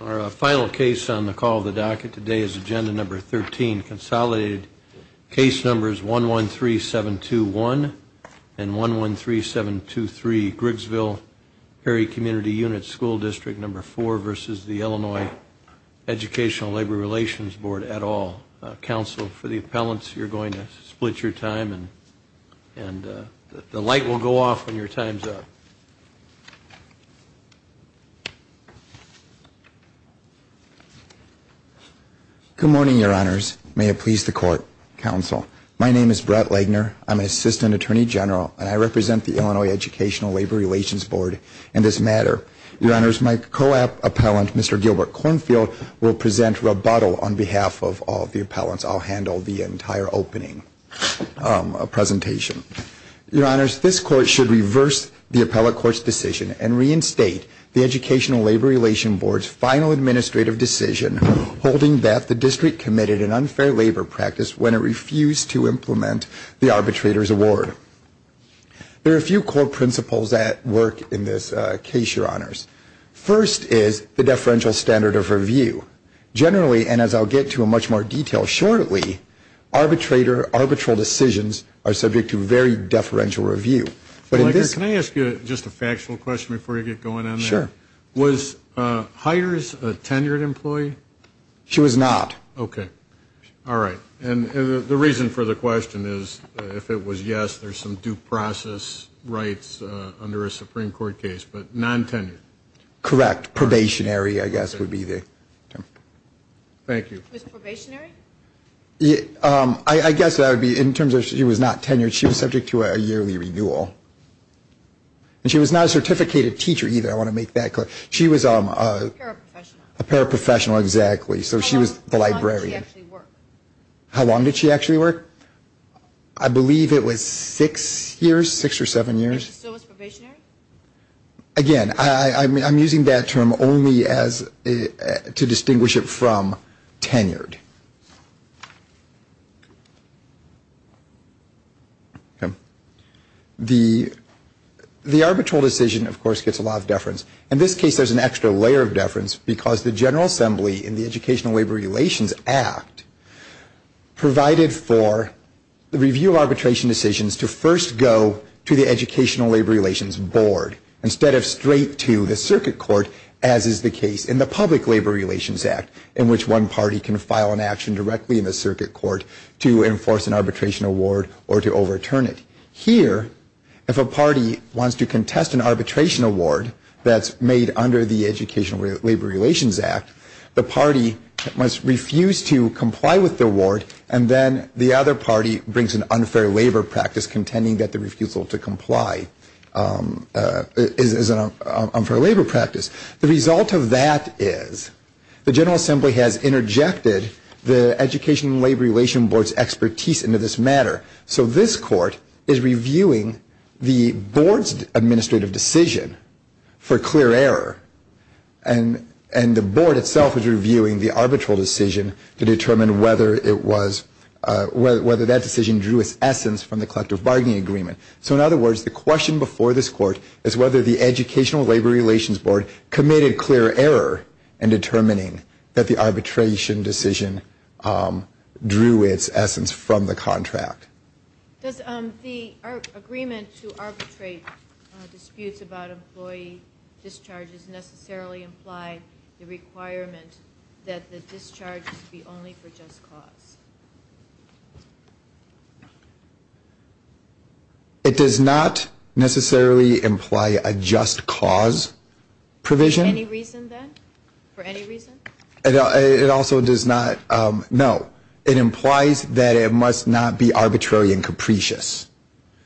Our final case on the call of the docket today is Agenda Number 13, Consolidated Case Numbers 113721 and 113723, Griggsville-Perry Community Unit School District No. 4 v. Illinois Educational Labor Relations Board et al. Counsel, for the appellants, you're going to split your time and the light will go off when your time's up. Good morning, Your Honors. May it please the Court, Counsel. My name is Brett Legner. I'm an Assistant Attorney General and I represent the Illinois Educational Labor Relations Board in this matter. Your Honors, my co-appellant, Mr. Gilbert Kornfield, will present rebuttal on behalf of all the appellants. I'll handle the entire opening presentation. Your Honors, this Court should reverse the appellate court's decision and reinstate the Educational Labor Relations Board's final administrative decision holding that the district committed an unfair labor practice when it refused to implement the arbitrator's award. There are a few core principles at work in this case, Your Honors. First is the deferential standard of review. Generally, and as I'll get to in much more detail shortly, arbitrator Can I ask you just a factual question before you get going on that? Sure. Was Hyers a tenured employee? She was not. Okay. All right. And the reason for the question is, if it was yes, there's some due process rights under a Supreme Court case. But non-tenured? Correct. Probationary, I guess, would be the term. Thank you. Was it probationary? I guess that would be in terms of she was not tenured. She was subject to a yearly renewal. And she was not a certificated teacher either. I want to make that clear. She was a paraprofessional. A paraprofessional, exactly. So she was the librarian. How long did she actually work? How long did she actually work? I believe it was six years, six or seven years. And she still was probationary? Again, I'm using that term only to distinguish it from tenured. The arbitral decision, of course, gets a lot of deference. In this case, there's an extra layer of deference because the General Assembly in the Educational Labor Relations Act provided for the review of arbitration decisions to first go to the Educational Labor Relations Board instead of straight to the circuit court, as is the case in the Public Labor Relations Act, in which one party can file an action directly in the circuit court to enforce an arbitration award or to overturn it. Here, if a party wants to contest an arbitration award that's made under the Educational Labor Relations Act, the party must refuse to comply with the award, and then the other party brings an unfair labor practice contending that the refusal to comply is an unfair labor practice. The result of that is the General Assembly has interjected the Educational Labor Relations Board's expertise into this matter. So this court is reviewing the board's administrative decision for clear error, and the board itself is reviewing the arbitral decision to determine whether that decision drew its essence from the collective bargaining agreement. So in other words, the question before this court is whether the Educational Labor Relations Board committed clear error in determining that the arbitration decision drew its essence from the contract. Does the agreement to arbitrate disputes about employee discharges necessarily imply the requirement that the discharges be only for just cause? It does not necessarily imply a just cause provision. Any reason, then? For any reason? It also does not. No. It implies that it must not be arbitrary and capricious.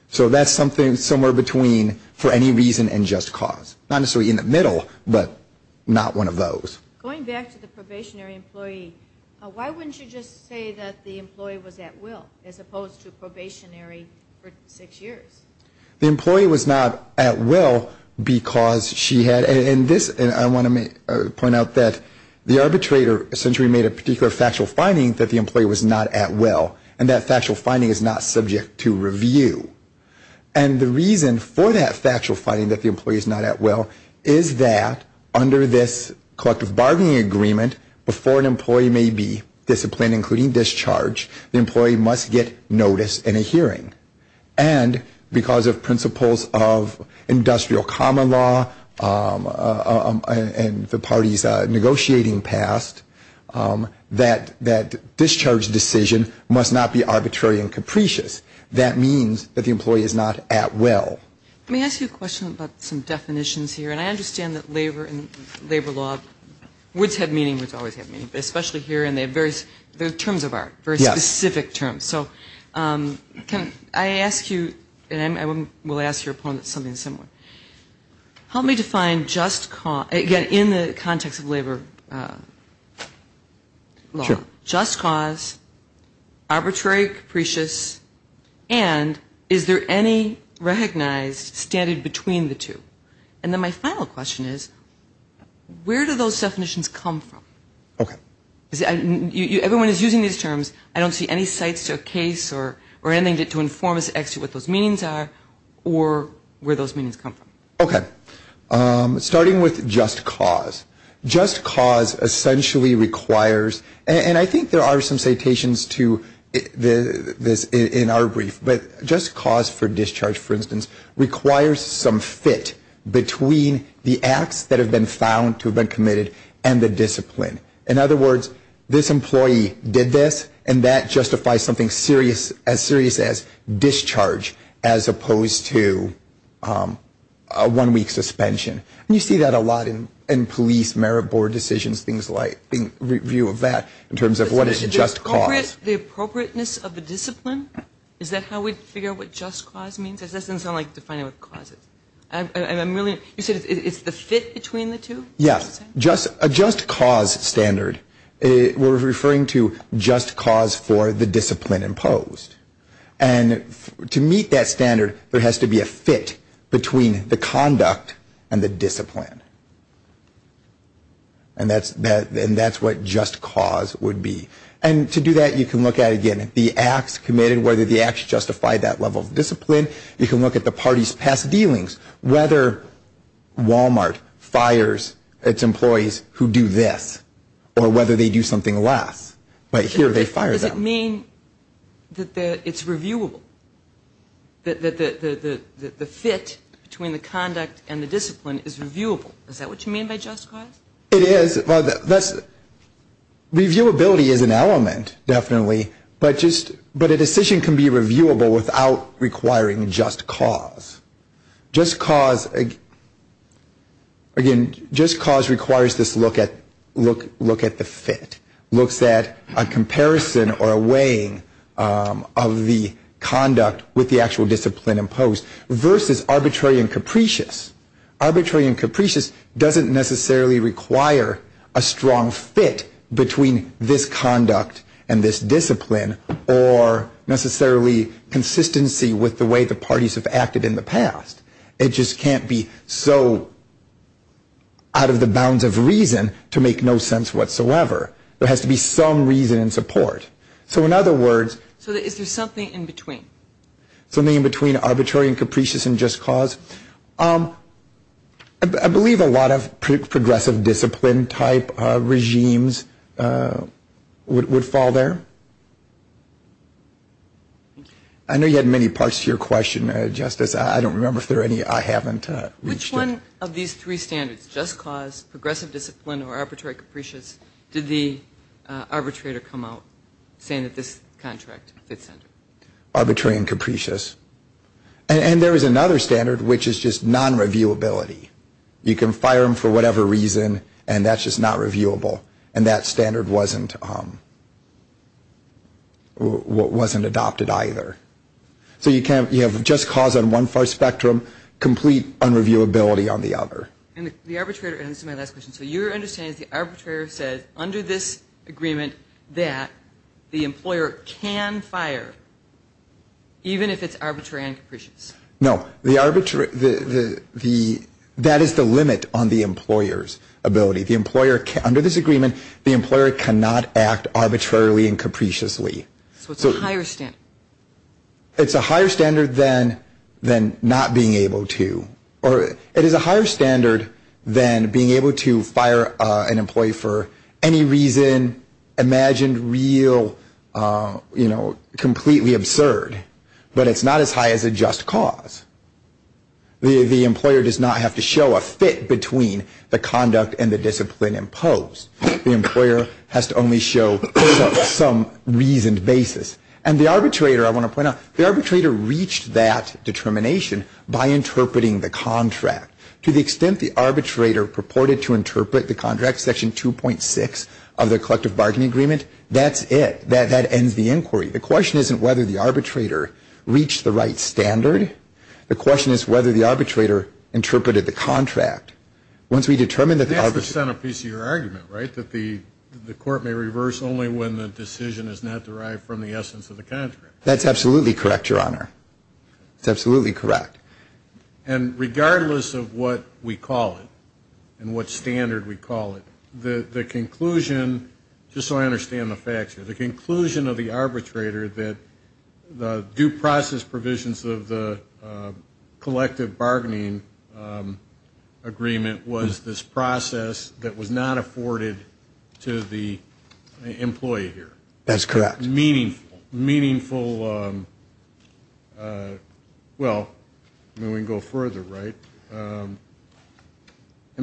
So that's something somewhere between for any reason and just cause. Not necessarily in the middle, but not one of those. Going back to the probationary employee, why wouldn't you just say that the employee was at will as opposed to probationary for six years? The employee was not at will because she had, and I want to point out that the arbitrator essentially made a particular factual finding that the employee was not at well, and that factual finding is not subject to review. And the reason for that factual finding that the employee is not at will is that under this collective bargaining agreement, before an employee may be disciplined, including discharge, the employee must get noticed in a hearing. And because of principles of industrial common law and the parties negotiating past, that discharge decision must not be arbitrary and capricious. That means that the employee is not at will. Let me ask you a question about some definitions here. And I understand that labor and labor law, which have meaning, which always have meaning, especially here, and they have various terms of art, very specific terms. So can I ask you, and I will ask your opponent something similar. Help me define just cause, again, in the context of labor law. Sure. Just cause, arbitrary, capricious, and is there any recognized standard between the two? And then my final question is, where do those definitions come from? Okay. Everyone is using these terms. I don't see any sites or case or anything to inform us as to what those meanings are or where those meanings come from. Okay. Starting with just cause. Just cause essentially requires, and I think there are some citations to this in our brief, but just cause for discharge, for instance, requires some fit between the acts that have been found to have been committed and the discipline. In other words, this employee did this, and that justifies something as serious as discharge, as opposed to a one-week suspension. And you see that a lot in police merit board decisions, things like review of that, in terms of what is just cause. The appropriateness of the discipline? Is that how we figure what just cause means? That doesn't sound like defining what cause is. You said it's the fit between the two? Yes. A just cause standard, we're referring to just cause for the discipline imposed. And to meet that standard, there has to be a fit between the conduct and the discipline. And that's what just cause would be. And to do that, you can look at, again, the acts committed, whether the acts justify that level of discipline. You can look at the party's past dealings, whether Walmart fires its employees who do this, or whether they do something less. But here they fire them. Does it mean that it's reviewable, that the fit between the conduct and the discipline is reviewable? Is that what you mean by just cause? It is. Reviewability is an element, definitely. But a decision can be reviewable without requiring just cause. Just cause, again, just cause requires this look at the fit, looks at a comparison or a weighing of the conduct with the actual discipline imposed, versus arbitrary and capricious. Arbitrary and capricious doesn't necessarily require a strong fit between this conduct and this discipline, or necessarily consistency with the way the parties have acted in the past. It just can't be so out of the bounds of reason to make no sense whatsoever. There has to be some reason and support. So in other words... So is there something in between? Something in between arbitrary and capricious and just cause. I believe a lot of progressive discipline type regimes would fall there. I know you had many parts to your question, Justice. I don't remember if there are any I haven't reached yet. Which one of these three standards, just cause, progressive discipline, or arbitrary capricious, did the arbitrator come out saying that this contract fits in? Arbitrary and capricious. And there is another standard which is just non-reviewability. You can fire them for whatever reason and that's just not reviewable. And that standard wasn't adopted either. So you have just cause on one far spectrum, complete unreviewability on the other. And the arbitrator, and this is my last question, so your understanding is the arbitrator says under this agreement that the employer can fire, even if it's arbitrary and capricious. No. That is the limit on the employer's ability. Under this agreement, the employer cannot act arbitrarily and capriciously. So it's a higher standard. It's a higher standard than not being able to, or it is a higher standard than being able to fire an employee for any reason, imagined, real, you know, completely absurd. But it's not as high as a just cause. The employer does not have to show a fit between the conduct and the discipline imposed. The employer has to only show some reasoned basis. And the arbitrator, I want to point out, the arbitrator reached that determination by interpreting the contract. To the extent the arbitrator purported to interpret the contract, section 2.6 of the collective bargaining agreement, that's it. That ends the inquiry. The question isn't whether the arbitrator reached the right standard. The question is whether the arbitrator interpreted the contract. That's the centerpiece of your argument, right, that the court may reverse only when the decision is not derived from the essence of the contract. That's absolutely correct, Your Honor. It's absolutely correct. And regardless of what we call it and what standard we call it, the conclusion, just so I understand the facts here, the conclusion of the arbitrator that the due process provisions of the collective bargaining agreement was this process that was not afforded to the employee here. That's correct. Meaningful, meaningful, well, we can go further, right? An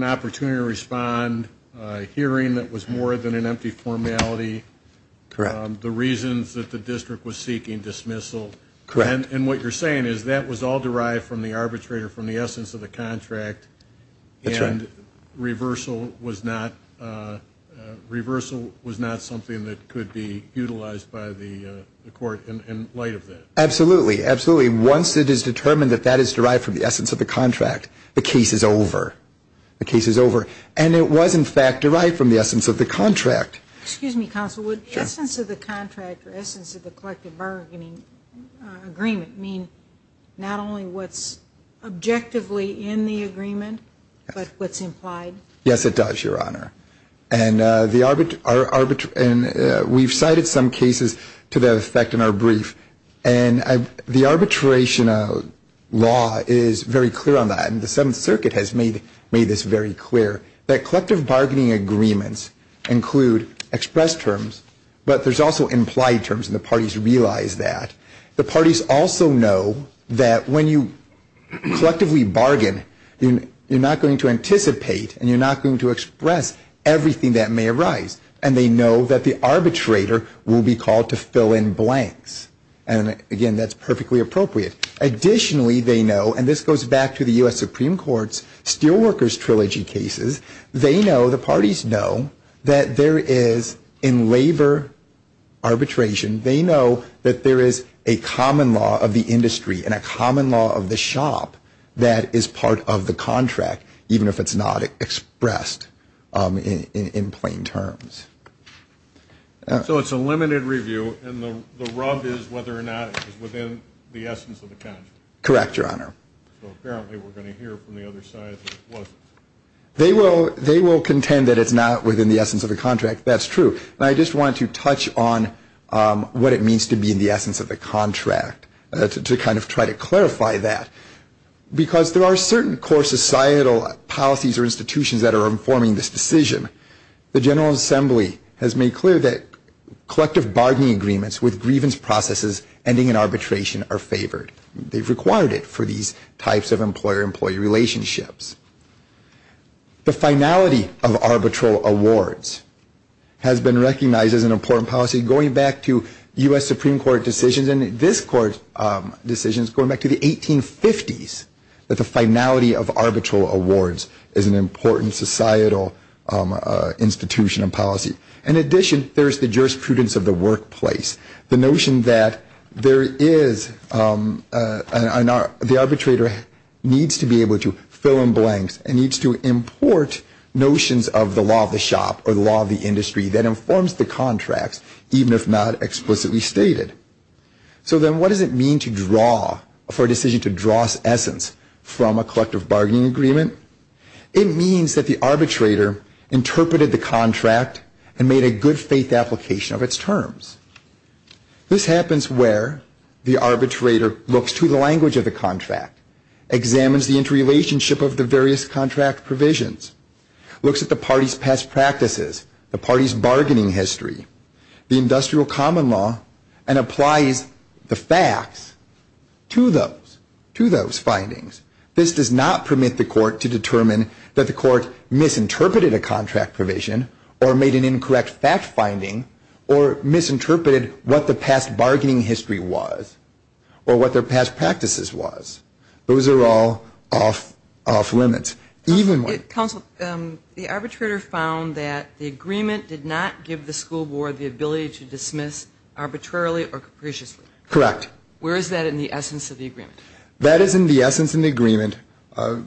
opportunity to respond, a hearing that was more than an empty formality. Correct. The reasons that the district was seeking dismissal. Correct. And what you're saying is that was all derived from the arbitrator from the essence of the contract. That's right. And reversal was not something that could be utilized by the court in light of that. Absolutely, absolutely. Once it is determined that that is derived from the essence of the contract, the case is over. The case is over. And it was, in fact, derived from the essence of the contract. Excuse me, counsel. Would the essence of the contract or essence of the collective bargaining agreement mean not only what's objectively in the agreement, but what's implied? Yes, it does, Your Honor. And we've cited some cases to that effect in our brief. And the arbitration law is very clear on that. And the Seventh Circuit has made this very clear, that collective bargaining agreements include express terms, but there's also implied terms, and the parties realize that. The parties also know that when you collectively bargain, you're not going to anticipate and you're not going to express everything that may arise. And they know that the arbitrator will be called to fill in blanks. And, again, that's perfectly appropriate. Additionally, they know, and this goes back to the U.S. Supreme Court's Steelworkers Trilogy cases, they know, the parties know, that there is, in labor arbitration, they know that there is a common law of the industry and a common law of the shop that is part of the contract, even if it's not expressed in plain terms. So it's a limited review, and the rub is whether or not it's within the essence of the contract. Correct, Your Honor. So apparently we're going to hear from the other side that it wasn't. They will contend that it's not within the essence of the contract. That's true. And I just wanted to touch on what it means to be in the essence of the contract to kind of try to clarify that. Because there are certain core societal policies or institutions that are informing this decision. The General Assembly has made clear that collective bargaining agreements with grievance processes ending in arbitration are favored. They've required it for these types of employer-employee relationships. The finality of arbitral awards has been recognized as an important policy, going back to U.S. Supreme Court decisions and this Court's decisions going back to the 1850s, that the finality of arbitral awards is an important societal institution and policy. In addition, there is the jurisprudence of the workplace, the notion that the arbitrator needs to be able to fill in blanks and needs to import notions of the law of the shop or the law of the industry that informs the contracts, even if not explicitly stated. So then what does it mean to draw, for a decision to draw essence from a collective bargaining agreement? It means that the arbitrator interpreted the contract and made a good faith application of its terms. This happens where the arbitrator looks to the language of the contract, examines the interrelationship of the various contract provisions, looks at the party's past practices, the party's bargaining history, the industrial common law, and applies the facts to those findings. This does not permit the court to determine that the court misinterpreted a contract provision or made an incorrect fact finding or misinterpreted what the past bargaining history was or what their past practices was. Those are all off limits. Counsel, the arbitrator found that the agreement did not give the school board the ability to dismiss arbitrarily or capriciously. Correct. Where is that in the essence of the agreement? That is in the essence of the agreement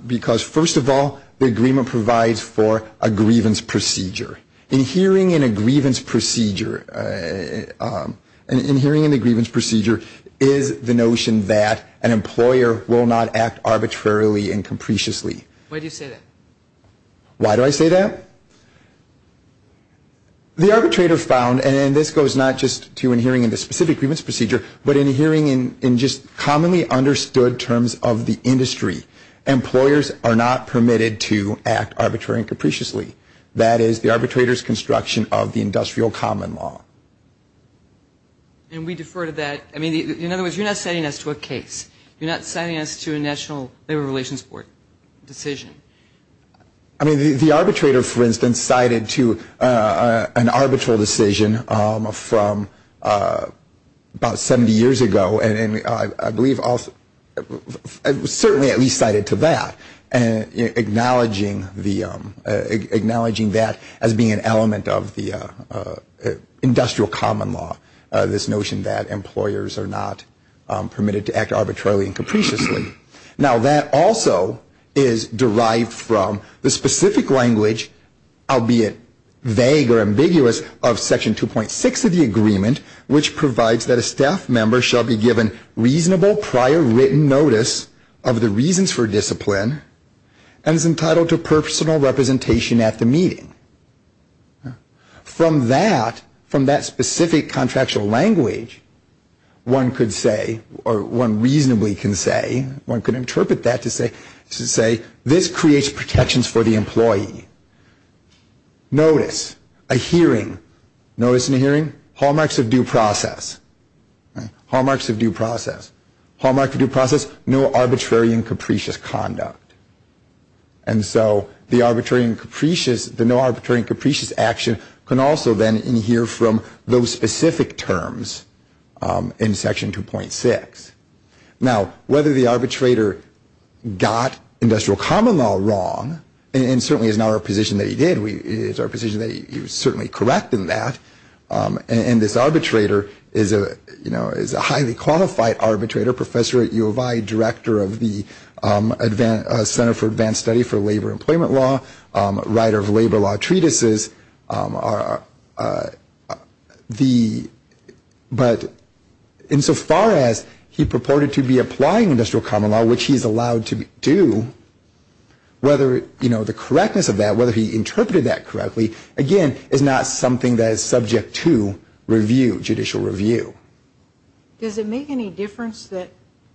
because, first of all, the agreement provides for a grievance procedure. Inhering in a grievance procedure is the notion that an employer will not act arbitrarily and capriciously. Why do you say that? Why do I say that? The arbitrator found, and this goes not just to inhering in the specific grievance procedure, but inhering in just commonly understood terms of the industry, employers are not permitted to act arbitrarily and capriciously. That is the arbitrator's construction of the industrial common law. And we defer to that. I mean, in other words, you're not citing us to a case. You're not citing us to a National Labor Relations Board decision. I mean, the arbitrator, for instance, cited to an arbitral decision from about 70 years ago, and I believe certainly at least cited to that, acknowledging that as being an element of the industrial common law, this notion that employers are not permitted to act arbitrarily and capriciously. Now, that also is derived from the specific language, albeit vague or ambiguous, of Section 2.6 of the agreement, which provides that a staff member shall be given reasonable prior written notice of the reasons for discipline and is entitled to personal representation at the meeting. From that specific contractual language, one could say, or one reasonably can say, one could interpret that to say, this creates protections for the employee. Notice, a hearing, notice in a hearing, hallmarks of due process. Hallmarks of due process. Hallmark of due process, no arbitrary and capricious conduct. And so the arbitrary and capricious, the no arbitrary and capricious action, can also then inhere from those specific terms in Section 2.6. Now, whether the arbitrator got industrial common law wrong, and certainly is not our position that he did, it is our position that he was certainly correct in that, and this arbitrator is a highly qualified arbitrator, professor at U of I, director of the Center for Advanced Study for Labor and Employment Law, writer of labor law treatises. But insofar as he purported to be applying industrial common law, which he is allowed to do, whether, you know, the correctness of that, whether he interpreted that correctly, again, is not something that is subject to review, judicial review. Does it make any difference that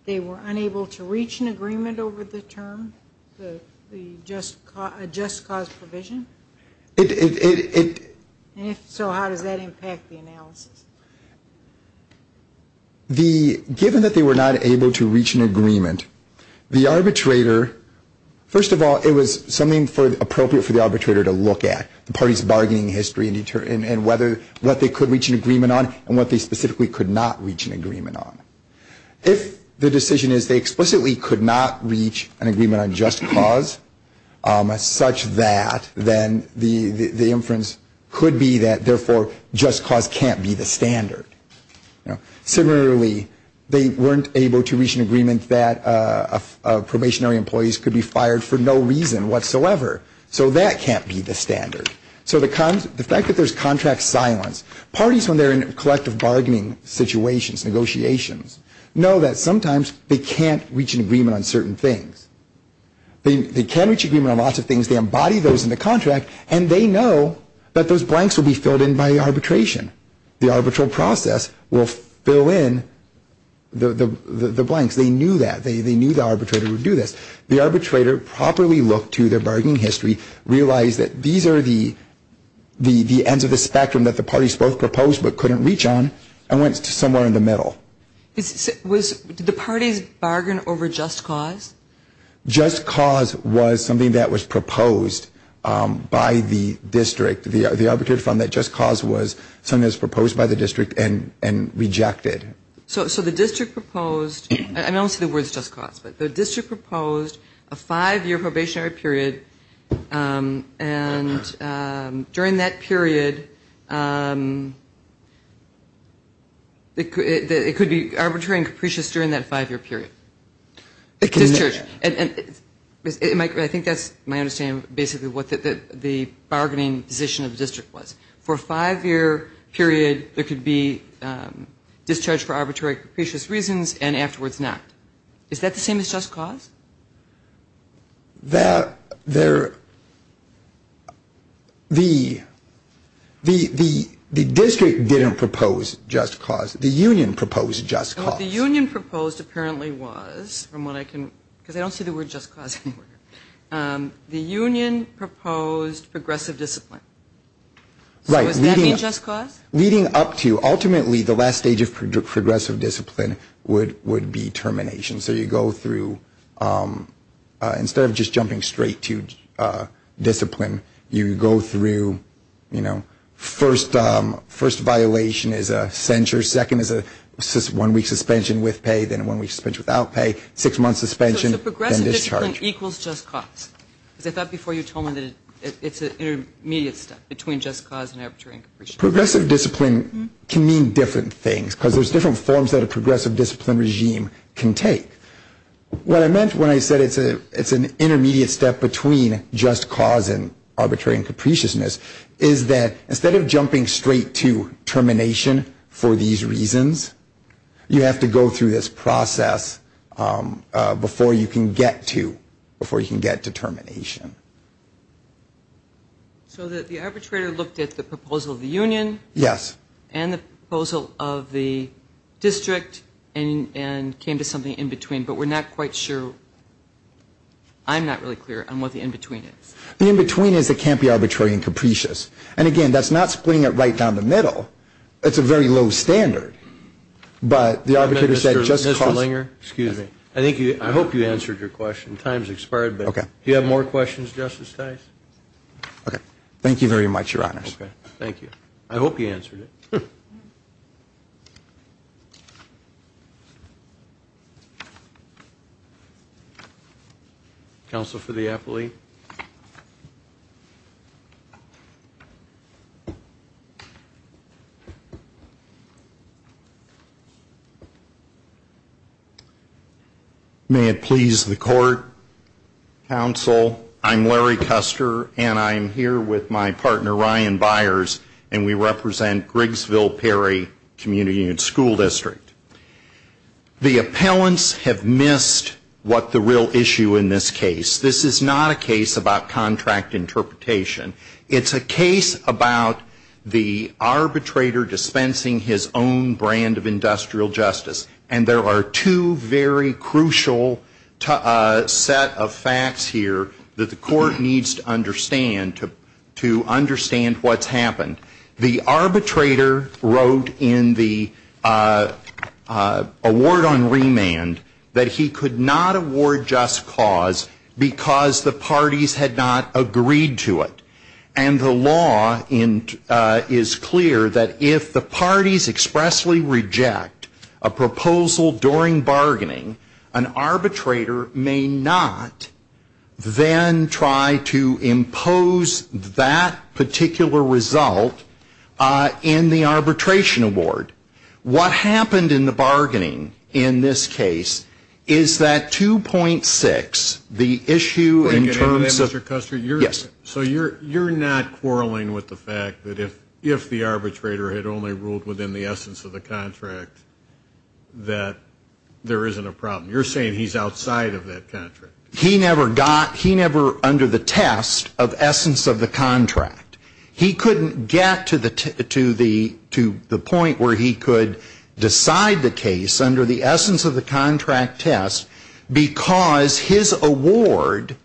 they were unable to reach an agreement over the term, the just cause provision? It, it, it, it. And if so, how does that impact the analysis? The, given that they were not able to reach an agreement, the arbitrator, first of all, it was something for, appropriate for the arbitrator to look at, the party's bargaining history and whether, what they could reach an agreement on and what they specifically could not reach an agreement on. If the decision is they explicitly could not reach an agreement on just cause such that, then the, the inference could be that, therefore, just cause can't be the standard. Similarly, they weren't able to reach an agreement that probationary employees could be fired for no reason whatsoever. So that can't be the standard. So the cons, the fact that there's contract silence, parties when they're in collective bargaining situations, negotiations, know that sometimes they can't reach an agreement on certain things. They, they can reach agreement on lots of things. They embody those in the contract and they know that those blanks will be filled in by arbitration. The arbitral process will fill in the, the, the, the blanks. They knew that. They, they knew the arbitrator would do this. The arbitrator properly looked to their bargaining history, realized that these are the, the, the ends of the spectrum that the parties both proposed but couldn't reach on, and went somewhere in the middle. Was, did the parties bargain over just cause? Just cause was something that was proposed by the district. The, the arbitrator found that just cause was something that was proposed by the district and, and rejected. So, so the district proposed, and I don't see the words just cause, but the district proposed a five-year probationary period and during that period it could, it could be arbitrary and capricious during that five-year period. It could. And, and it, it might, I think that's my understanding of basically what the, the bargaining position of the district was. For a five-year period there could be discharge for arbitrary capricious reasons and afterwards not. Is that the same as just cause? That, there, the, the, the district didn't propose just cause. The union proposed just cause. What the union proposed apparently was, from what I can, because I don't see the word just cause anywhere, the union proposed progressive discipline. Right. So does that mean just cause? Leading up to, ultimately the last stage of progressive discipline would, would be termination. So you go through, instead of just jumping straight to discipline, you go through, you know, first, first violation is a censure, second is a one-week suspension with pay, then a one-week suspension without pay, six-month suspension, then discharge. Discipline equals just cause, because I thought before you told me that it, it's an intermediate step between just cause and arbitrary and capriciousness. Progressive discipline can mean different things, because there's different forms that a progressive discipline regime can take. What I meant when I said it's a, it's an intermediate step between just cause and arbitrary and capriciousness is that instead of jumping straight to termination for these reasons, you have to go through this process before you can get to, before you can get to termination. So the arbitrator looked at the proposal of the union. Yes. And the proposal of the district and, and came to something in between, but we're not quite sure, I'm not really clear on what the in-between is. The in-between is it can't be arbitrary and capricious. And again, that's not splitting it right down the middle. It's a very low standard. But the arbitrator said just cause. Mr. Langer, excuse me. I think you, I hope you answered your question. Time's expired. Okay. Do you have more questions, Justice Tice? Okay. Thank you very much, Your Honors. Okay. Thank you. I hope you answered it. Thank you. Counsel for the appellee. May it please the court. Counsel, I'm Larry Custer, and I'm here with my partner, Ryan Byers, and we represent Grigsville-Perry Community and School District. The appellants have missed what the real issue in this case. This is not a case about contract interpretation. It's a case about the arbitrator dispensing his own brand of industrial justice. And there are two very crucial set of facts here that the court needs to understand what's happened. The arbitrator wrote in the award on remand that he could not award just cause because the parties had not agreed to it. And the law is clear that if the parties expressly reject a proposal during that particular result in the arbitration award, what happened in the bargaining in this case is that 2.6, the issue in terms of the Yes. So you're not quarreling with the fact that if the arbitrator had only ruled within the essence of the contract that there isn't a problem. You're saying he's outside of that contract. He never under the test of essence of the contract. He couldn't get to the point where he could decide the case under the essence of the contract test because his award,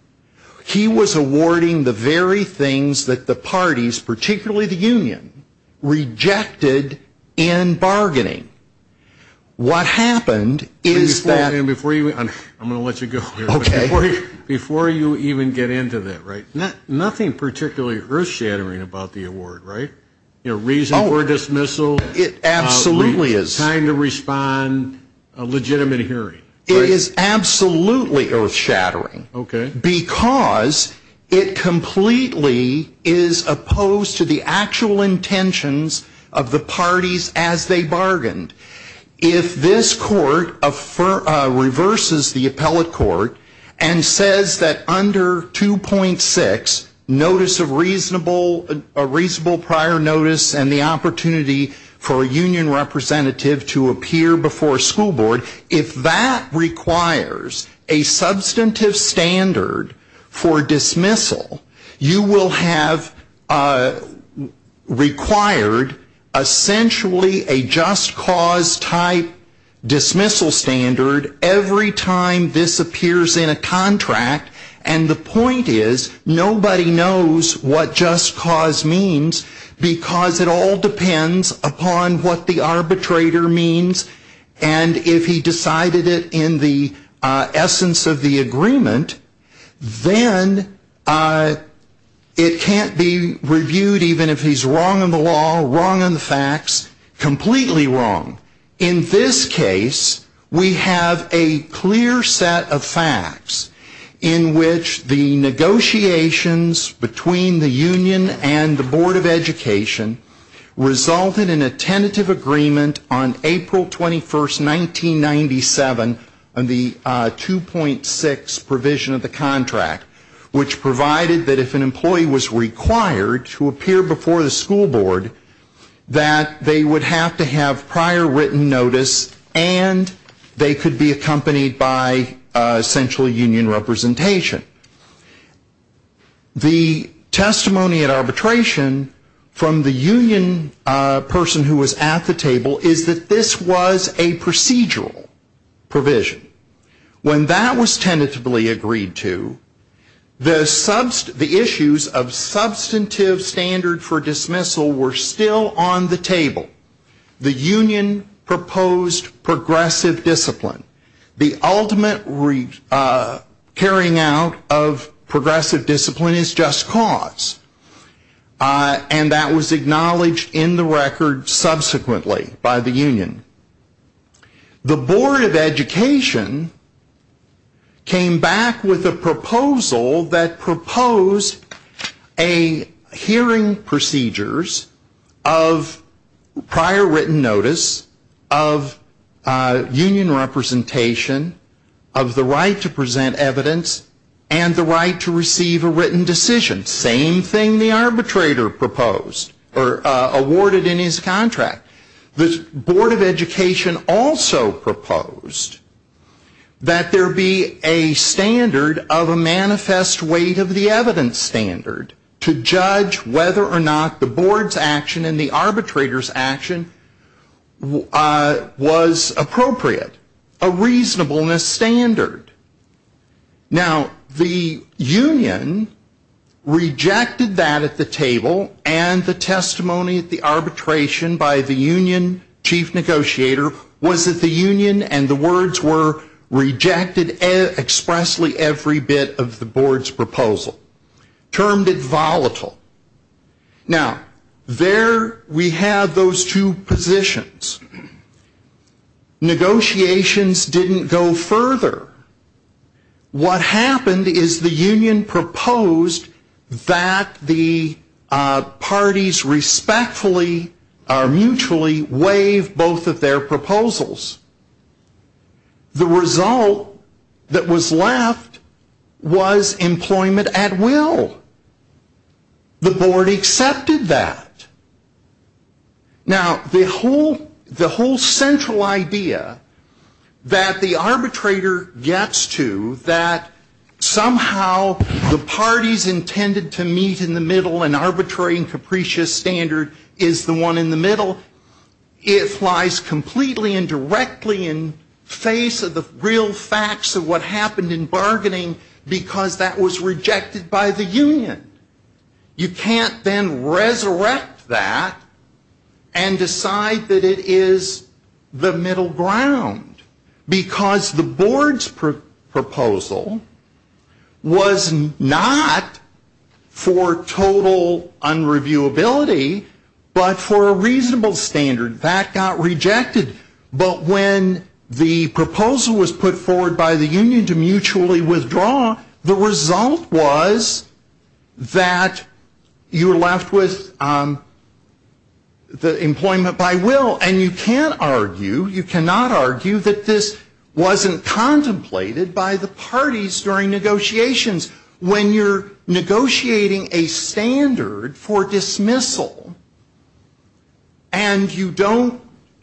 he was awarding the very things that the parties, particularly the union, rejected in bargaining. What happened is that I'm going to let you go here. Okay. Before you even get into that, right? Nothing particularly earth shattering about the award, right? Reason for dismissal. It absolutely is. Time to respond, a legitimate hearing. It is absolutely earth shattering because it completely is opposed to the actual intentions of the parties as they bargained. If this court reverses the appellate court and says that under 2.6, notice of reasonable prior notice and the opportunity for a union representative to appear before a school board, if that requires a substantive standard for dismissal standard every time this appears in a contract and the point is nobody knows what just cause means because it all depends upon what the arbitrator means and if he decided it in the essence of the agreement, then it can't be reviewed even if he's wrong on the law, wrong on the facts, completely wrong. In this case, we have a clear set of facts in which the negotiations between the union and the Board of Education resulted in a tentative agreement on April 21, 1997, on the 2.6 provision of the contract, which provided that if an employee was required to appear before the school board, that they would have to have prior written notice and they could be accompanied by essentially union representation. The testimony at arbitration from the union person who was at the table is that this was a procedural provision. When that was tentatively agreed to, the issues of substantive standard for dismissal were still on the table. The union proposed progressive discipline. The ultimate carrying out of progressive discipline is just cause and that was acknowledged in the record subsequently by the union. The Board of Education came back with a proposal that proposed hearing procedures of prior written notice, of union representation, of the right to present evidence, and the right to receive a written decision, same thing the arbitrator proposed or awarded in his contract. The Board of Education also proposed that there be a standard of a manifest weight of the evidence standard to judge whether or not the board's action and the arbitrator's action was appropriate, a reasonableness standard. Now, the union rejected that at the table and the testimony at the arbitration by the union chief negotiator was that the union and the words were rejected expressly every bit of the board's proposal, termed it volatile. Now, there we have those two positions. Negotiations didn't go further. What happened is the union proposed that the parties respectfully or mutually waive both of their proposals. The result that was left was employment at will. The board accepted that. Now, the whole central idea that the arbitrator gets to that somehow the parties intended to meet in the middle an arbitrary and capricious standard is the one in the middle, it lies completely and directly in face of the real facts of what happened in bargaining because that was rejected by the union. You can't then resurrect that and decide that it is the middle ground because the board's proposal was not for total unreviewability, but for a reasonable standard. That got rejected, but when the proposal was put forward by the union to mutually withdraw, the result was that you were left with the employment by will. And you can't argue, you cannot argue that this wasn't contemplated by the parties during negotiations. When you're negotiating a standard for dismissal and you don't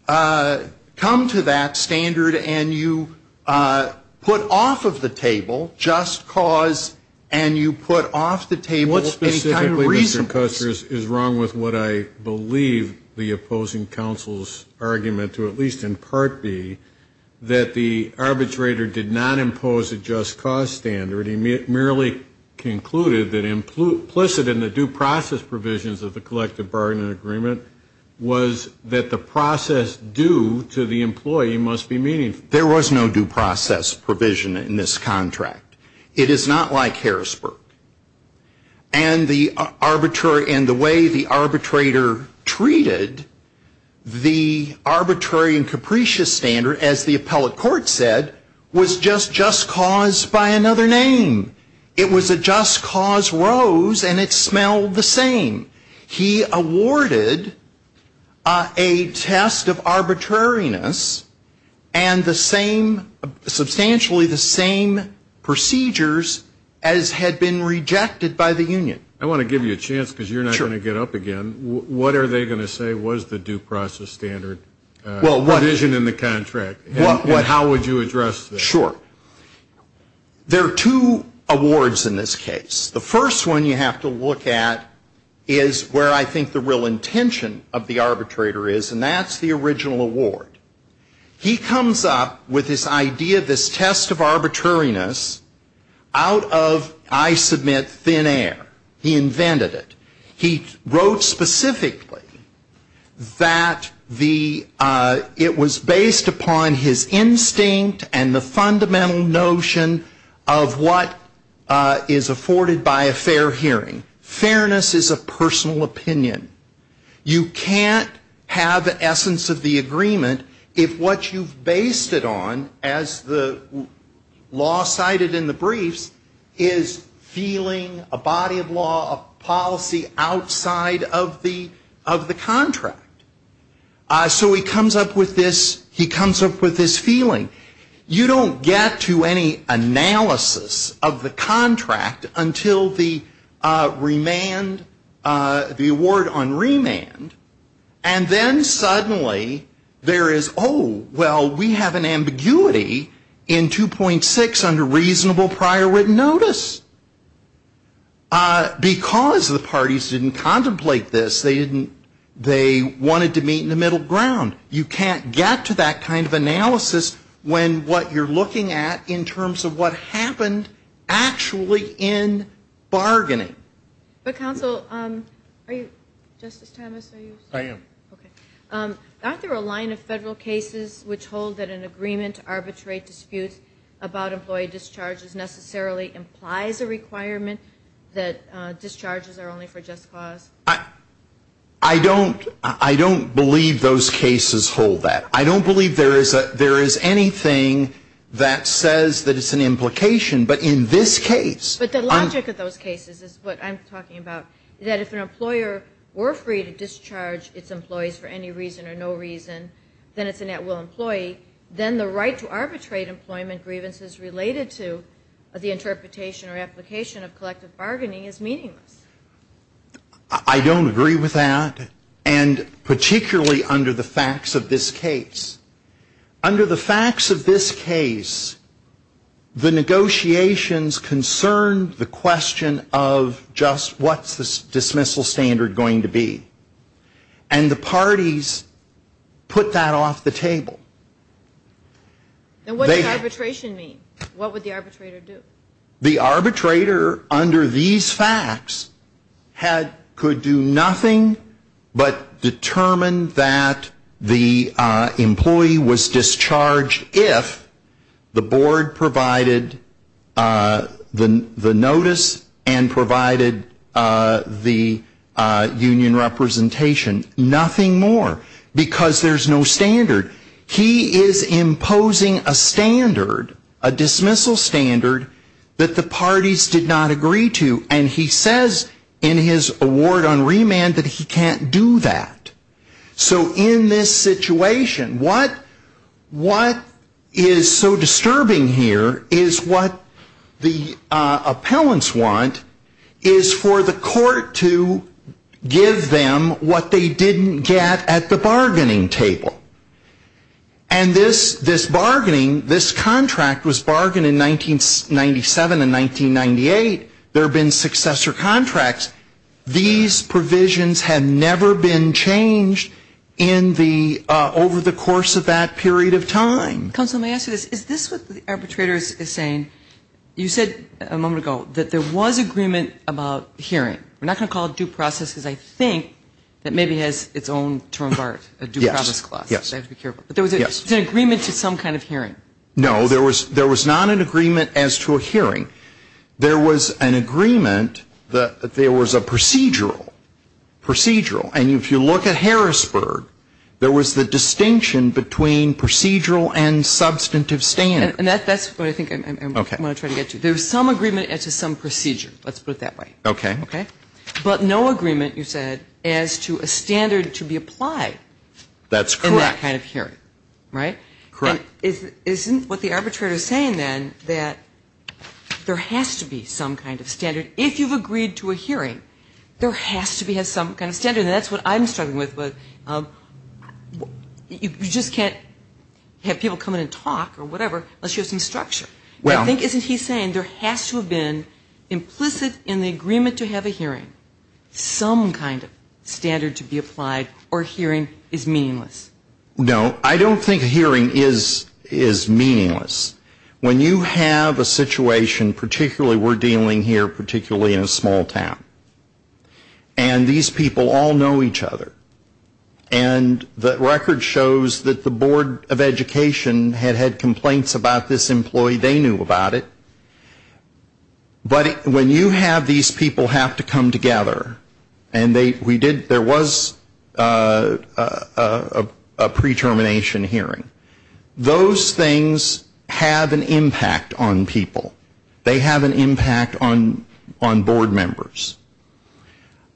come to that standard and you put off of the table just cause and you put off the table any kind of reason. What specifically, Mr. Custer, is wrong with what I believe the opposing counsel's argument to, at least in Part B, that the arbitrator did not impose a just cause standard. He merely concluded that implicit in the due process provisions of the collective bargaining agreement was that the process due to the employee must be meaningful. There was no due process provision in this contract. It is not like Harrisburg. And the way the arbitrator treated the arbitrary and capricious standard, as the appellate court said, was just just cause by another name. It was a just cause rose and it smelled the same. He awarded a test of arbitrariness and the same, substantially the same procedures as had been rejected by the union. I want to give you a chance because you're not going to get up again. What are they going to say was the due process standard provision in the contract? And how would you address that? Sure. There are two awards in this case. The first one you have to look at is where I think the real intention of the arbitrator is, and that's the original award. He comes up with this idea, this test of arbitrariness, out of, I submit, thin air. He invented it. He wrote specifically that it was based upon his instinct and the fundamental notion of what is afforded by a fair hearing. Fairness is a personal opinion. You can't have the essence of the agreement if what you've based it on, as the law cited in the briefs, is feeling a body of law, a policy outside of the contract. So he comes up with this feeling. You don't get to any analysis of the contract until the remand, the award on remand, and then suddenly there is, oh, well, we have an ambiguity in 2.6 under reasonable prior written notice. Because the parties didn't contemplate this, they wanted to meet in the middle ground. You can't get to that kind of analysis when what you're looking at in terms of what happened actually in bargaining. But, counsel, are you, Justice Thomas, are you? I am. Okay. Aren't there a line of federal cases which hold that an agreement to arbitrate disputes about employee discharges necessarily implies a requirement that discharges are only for just cause? I don't believe those cases hold that. I don't believe there is anything that says that it's an implication. But in this case. But the logic of those cases is what I'm talking about, that if an employer were free to discharge its employees for any reason or no reason, then it's a net will employee, then the right to arbitrate employment grievances related to the interpretation or application of collective bargaining is meaningless. I don't agree with that, and particularly under the facts of this case. Under the facts of this case, the negotiations concerned the question of just what's the dismissal standard going to be. And the parties put that off the table. And what does arbitration mean? What would the arbitrator do? The arbitrator under these facts could do nothing but determine that the employee was discharged if the board provided the notice and provided the union representation. Nothing more. Because there's no standard. He is imposing a standard, a dismissal standard, that the parties did not agree to. And he says in his award on remand that he can't do that. So in this situation, what is so disturbing here is what the appellants want is for the court to give them what they didn't get at the bargaining table. And this bargaining, this contract was bargained in 1997 and 1998. There have been successor contracts. These provisions have never been changed in the over the course of that period of time. Counsel, may I ask you this? Is this what the arbitrator is saying? And you said a moment ago that there was agreement about hearing. We're not going to call it due process because I think that maybe has its own term of art, a due process clause. I have to be careful. But there was an agreement to some kind of hearing. No, there was not an agreement as to a hearing. There was an agreement that there was a procedural, procedural. And if you look at Harrisburg, there was the distinction between procedural and substantive standard. And that's what I think I want to try to get to. There was some agreement as to some procedure. Let's put it that way. Okay. But no agreement, you said, as to a standard to be applied. That's correct. For that kind of hearing, right? Correct. Isn't what the arbitrator is saying then that there has to be some kind of standard? If you've agreed to a hearing, there has to be some kind of standard. And that's what I'm struggling with. You just can't have people come in and talk or whatever unless you have some structure. I think, isn't he saying there has to have been implicit in the agreement to have a hearing some kind of standard to be applied or a hearing is meaningless? No. I don't think a hearing is meaningless. When you have a situation, particularly we're dealing here particularly in a small town, and these people all know each other, and the record shows that the Board of Education had had complaints about this employee. They knew about it. But when you have these people have to come together, and there was a pre-termination hearing, those things have an impact on people. They have an impact on board members.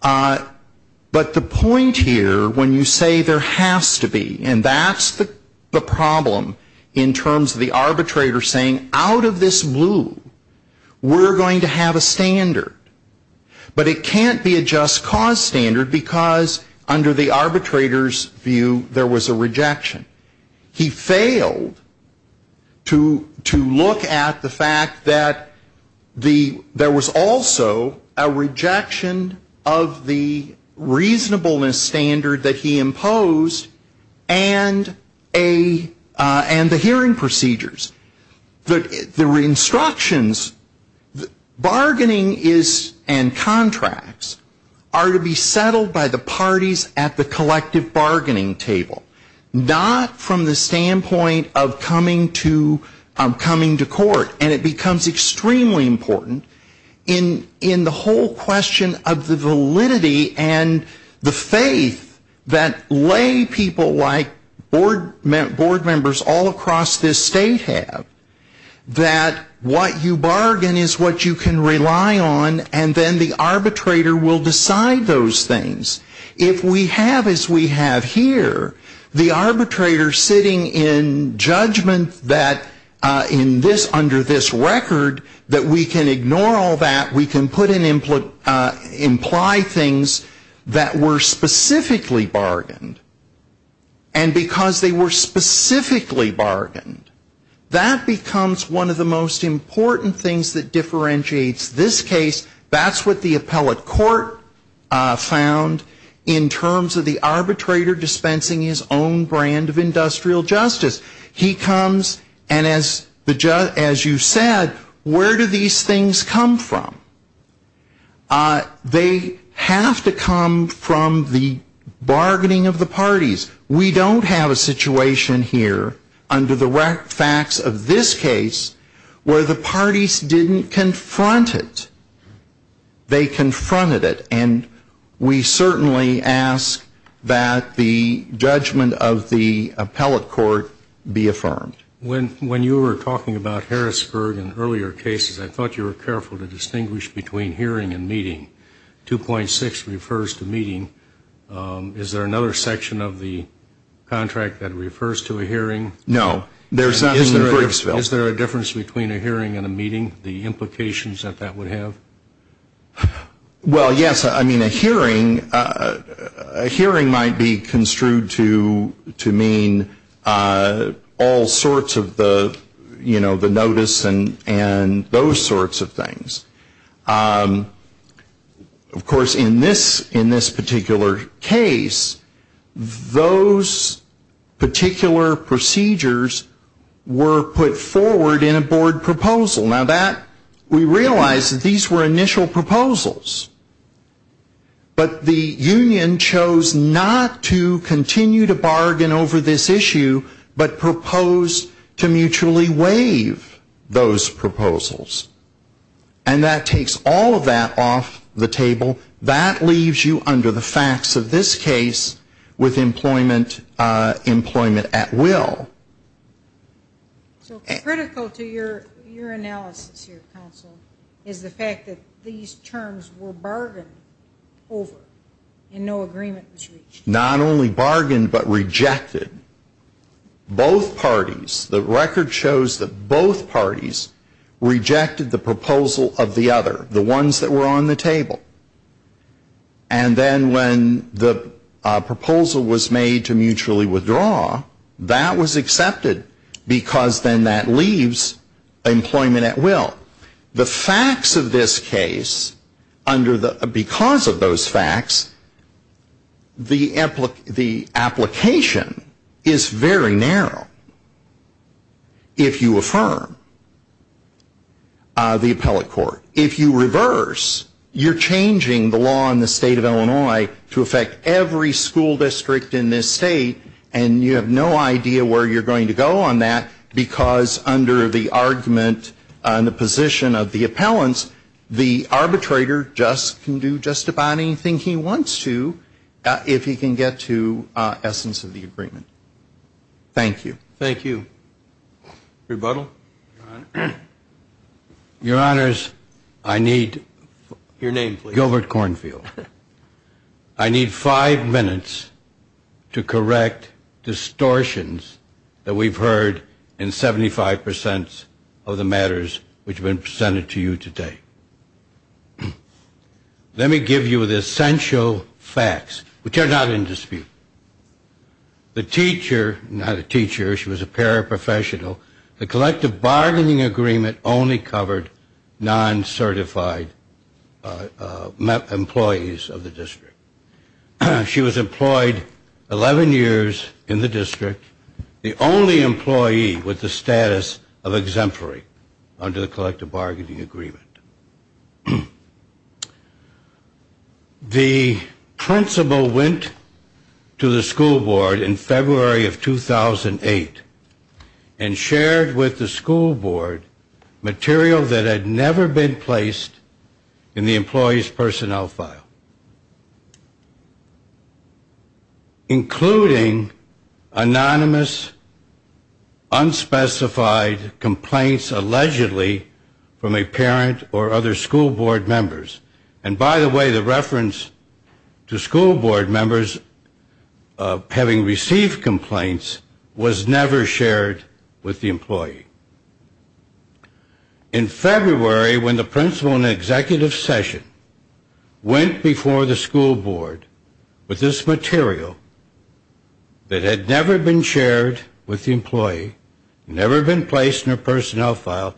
But the point here, when you say there has to be, and that's the problem in terms of the arbitrator saying, out of this blue, we're going to have a standard. But it can't be a just cause standard because under the arbitrator's view, there was a rejection. He failed to look at the fact that there was also a rejection of the reasonableness standard that he imposed and the hearing procedures. The instructions, bargaining and contracts are to be settled by the parties at the collective bargaining table. Not from the standpoint of coming to court. And it becomes extremely important in the whole question of the validity and the faith that lay people like board members all across this state have. That what you bargain is what you can rely on, and then the arbitrator will decide those things. If we have as we have here, the arbitrator sitting in judgment that in this, under this record, that we can ignore all that, we can put in, imply things that were specifically bargained. And because they were specifically bargained, that becomes one of the most important things that differentiates this case. That's what the appellate court found in terms of the arbitrator dispensing his own brand of industrial justice. He comes and as you said, where do these things come from? They have to come from the bargaining of the parties. We don't have a situation here under the facts of this case where the parties didn't confront it. They confronted it. And we certainly ask that the judgment of the appellate court be affirmed. When you were talking about Harrisburg and earlier cases, I thought you were careful to distinguish between hearing and meeting. 2.6 refers to meeting. Is there another section of the contract that refers to a hearing? No. Is there a difference between a hearing and a meeting, the implications that that would have? Well, yes. I mean, a hearing might be construed to mean all sorts of the notice and those sorts of things. Of course, in this particular case, those particular procedures were put forward in a board proposal. Now, we realize that these were initial proposals. But the union chose not to continue to bargain over this issue, but proposed to mutually waive those proposals. And that takes all of that off the table. That leaves you under the facts of this case with employment at will. So critical to your analysis here, counsel, is the fact that these terms were bargained over and no agreement was reached. Not only bargained, but rejected. Both parties, the record shows that both parties rejected the proposal of the other, the ones that were on the table. And then when the proposal was made to mutually withdraw, that was accepted because then that leaves employment at will. The facts of this case, because of those facts, the application is very narrow if you affirm the appellate court. If you reverse, you're changing the law in the state of Illinois to affect every school district in this state, and you have no idea where you're going to go on that because under the argument on the position of the appellants, the arbitrator can do just about anything he wants to if he can get to essence of the agreement. Thank you. Thank you. Rebuttal? Your Honors, I need Gilbert Cornfield. I need five minutes to correct distortions that we've heard in 75% of the matters which have been presented to you today. Let me give you the essential facts, which are not in dispute. The teacher, not a teacher, she was a paraprofessional, the collective bargaining agreement only covered non-certified employees of the district. She was employed 11 years in the district. The only employee with the status of exemplary under the collective bargaining agreement. The principal went to the school board in February of 2008 and shared with the school board material that had never been placed in the employee's personnel file, including anonymous, unspecified complaints allegedly from a parent or other school board members. And by the way, the reference to school board members having received complaints was never shared with the employee. In February, when the principal in an executive session went before the school board with this material that had never been shared with the employee, never been placed in her personnel file,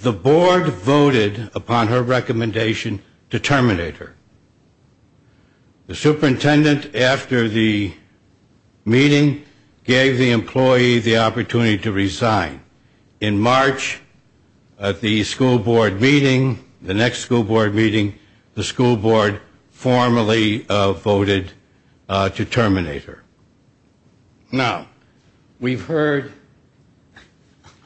the board voted upon her recommendation to terminate her. The superintendent, after the meeting, gave the employee the opportunity to resign. In March, at the school board meeting, the next school board meeting, the school board formally voted to terminate her. Now, we've heard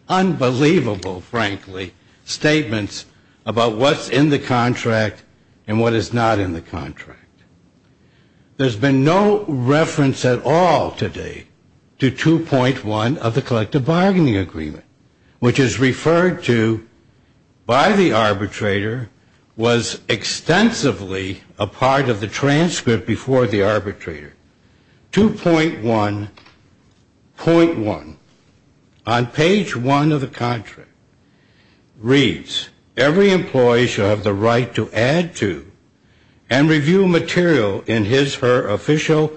unbelievable, frankly, statements about what's in the contract and what is not in the contract. There's been no reference at all today to 2.1 of the collective bargaining agreement, which is referred to by the arbitrator, was extensively a part of the transcript before the arbitrator. 2.1.1, on page one of the contract, reads, Every employee shall have the right to add to and review material in his or her official,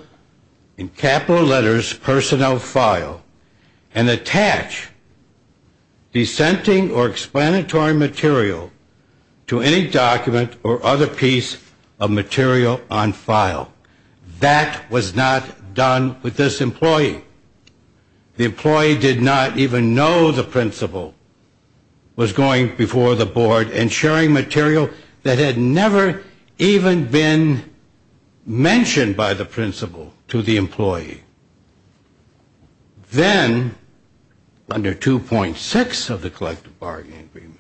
in capital letters, personnel file, and attach dissenting or explanatory material to any document or other piece of material on file. That was not done with this employee. The employee did not even know the principal was going before the board and sharing material that had never even been mentioned by the principal to the employee. Then, under 2.6 of the collective bargaining agreement,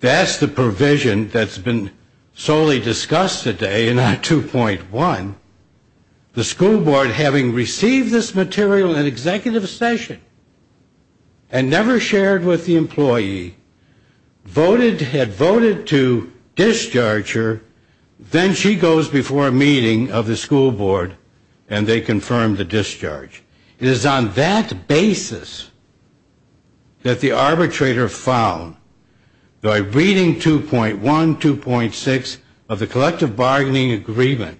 that's the provision that's been solely discussed today in our 2.1. The school board, having received this material in executive session and never shared with the employee, had voted to discharge her. Then she goes before a meeting of the school board, and they confirm the discharge. It is on that basis that the arbitrator found, by reading 2.1, 2.6 of the collective bargaining agreement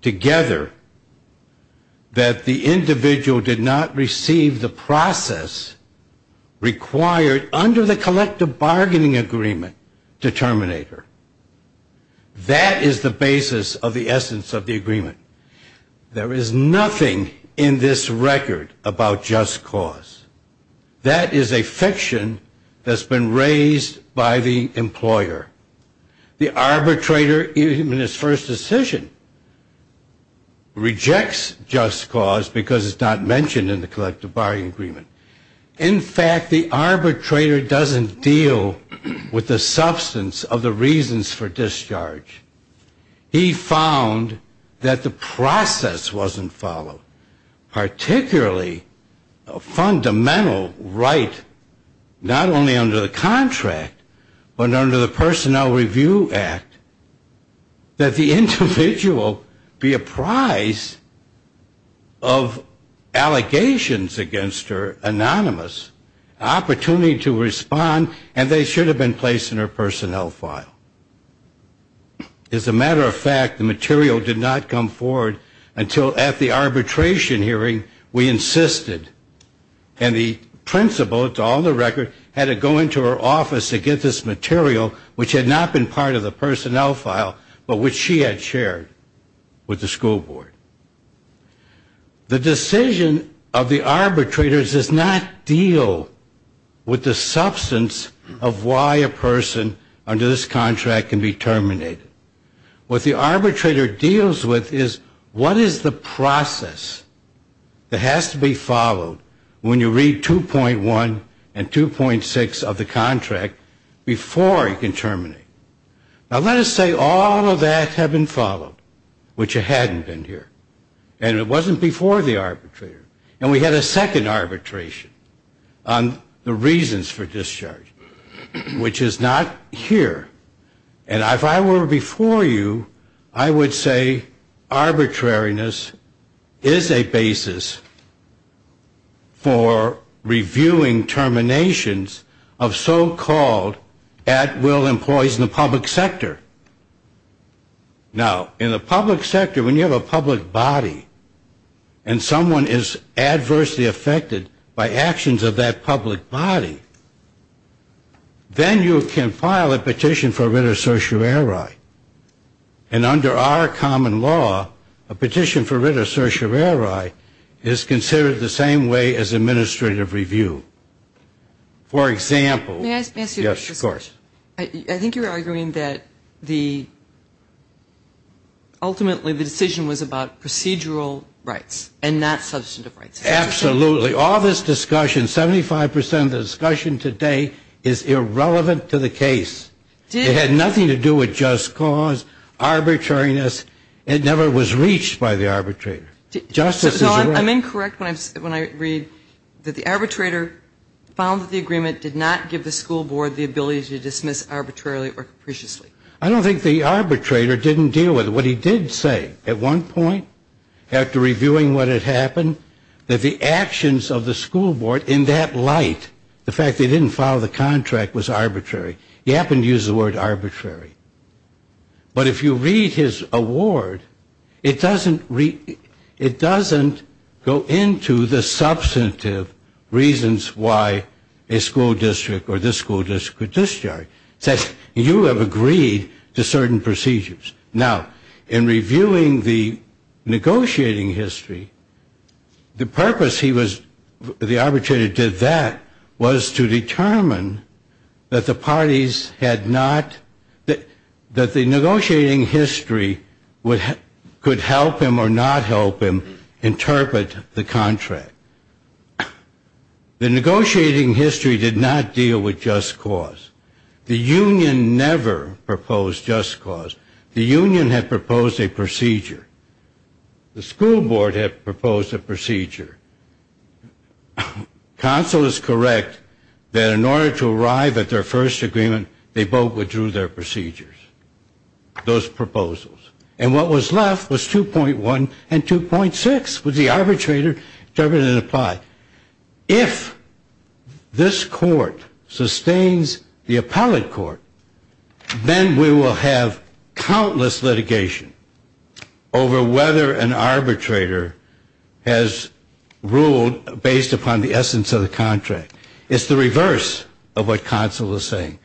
together, that the individual did not receive the process required under the collective bargaining agreement to terminate her. That is the basis of the essence of the agreement. There is nothing in this record about just cause. That is a fiction that's been raised by the employer. The arbitrator, even in his first decision, rejects just cause because it's not mentioned in the collective bargaining agreement. In fact, the arbitrator doesn't deal with the substance of the reasons for discharge. He found that the process wasn't followed, particularly a fundamental right, not only under the contract, but under the Personnel Review Act, that the individual be apprised of allegations against her, anonymous, opportunity to respond, and they should have been placed in her personnel file. As a matter of fact, the material did not come forward until at the arbitration hearing we insisted, and the principal, to all the record, had to go into her office to get this material, which had not been part of the personnel file, but which she had shared with the school board. The decision of the arbitrator does not deal with the substance of why a person under this contract can be terminated. What the arbitrator deals with is what is the process that has to be followed when you read 2.1 and 2.6 of the contract before he can terminate. Now, let us say all of that had been followed, which hadn't been here, and it wasn't before the arbitrator. And we had a second arbitration on the reasons for discharge, which is not here. And if I were before you, I would say arbitrariness is a basis for reviewing terminations of so-called at-will employees in the public sector. Now, in the public sector, when you have a public body and someone is adversely affected by actions of that public body, then you can file a petition for writ of certiorari. And under our common law, a petition for writ of certiorari is considered the same way as administrative review. For example... May I ask you a question? Yes, of course. I think you're arguing that the ultimately the decision was about procedural rights and not substantive rights. Absolutely. All this discussion, 75 percent of the discussion today is irrelevant to the case. It had nothing to do with just cause, arbitrariness. It never was reached by the arbitrator. Justice is... So I'm incorrect when I read that the arbitrator found that the agreement did not give the school board the ability to dismiss arbitrarily or capriciously. I don't think the arbitrator didn't deal with it. What he did say at one point, after reviewing what had happened, that the actions of the school board in that light, the fact they didn't file the contract was arbitrary. He happened to use the word arbitrary. But if you read his award, it doesn't go into the substantive reasons why a school district or this school district could discharge. It says you have agreed to certain procedures. Now, in reviewing the negotiating history, the purpose he was... That was to determine that the parties had not... That the negotiating history could help him or not help him interpret the contract. The negotiating history did not deal with just cause. The union never proposed just cause. The union had proposed a procedure. The school board had proposed a procedure. And it was correct that in order to arrive at their first agreement, they both withdrew their procedures, those proposals. And what was left was 2.1 and 2.6, which the arbitrator determined it applied. If this court sustains the appellate court, then we will have countless litigation over whether an arbitrator has ruled based upon the essence of the contract. It's the reverse of what counsel is saying.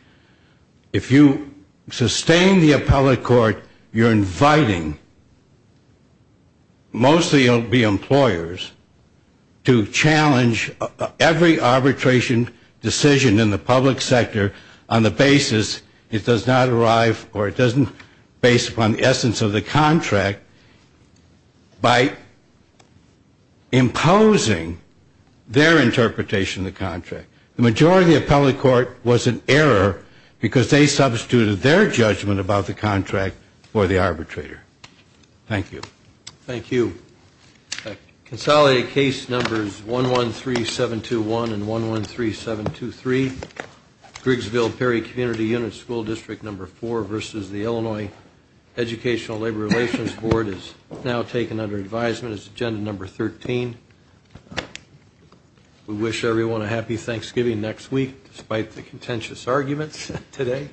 If you sustain the appellate court, you're inviting... It does not arrive or it doesn't base upon the essence of the contract by imposing their interpretation of the contract. The majority of the appellate court was in error because they substituted their judgment about the contract for the arbitrator. Thank you. Thank you. Consolidated case numbers 113721 and 113723. Grigsville-Perry Community Unit, School District Number 4 versus the Illinois Educational Labor Relations Board is now taken under advisement. It's Agenda Number 13. We wish everyone a happy Thanksgiving next week, despite the contentious arguments today.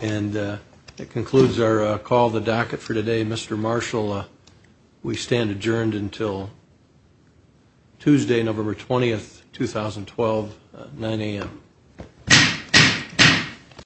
And that concludes our call to the docket for today. Mr. Marshall, we stand adjourned until Tuesday, November 20, 2012, 9 a.m.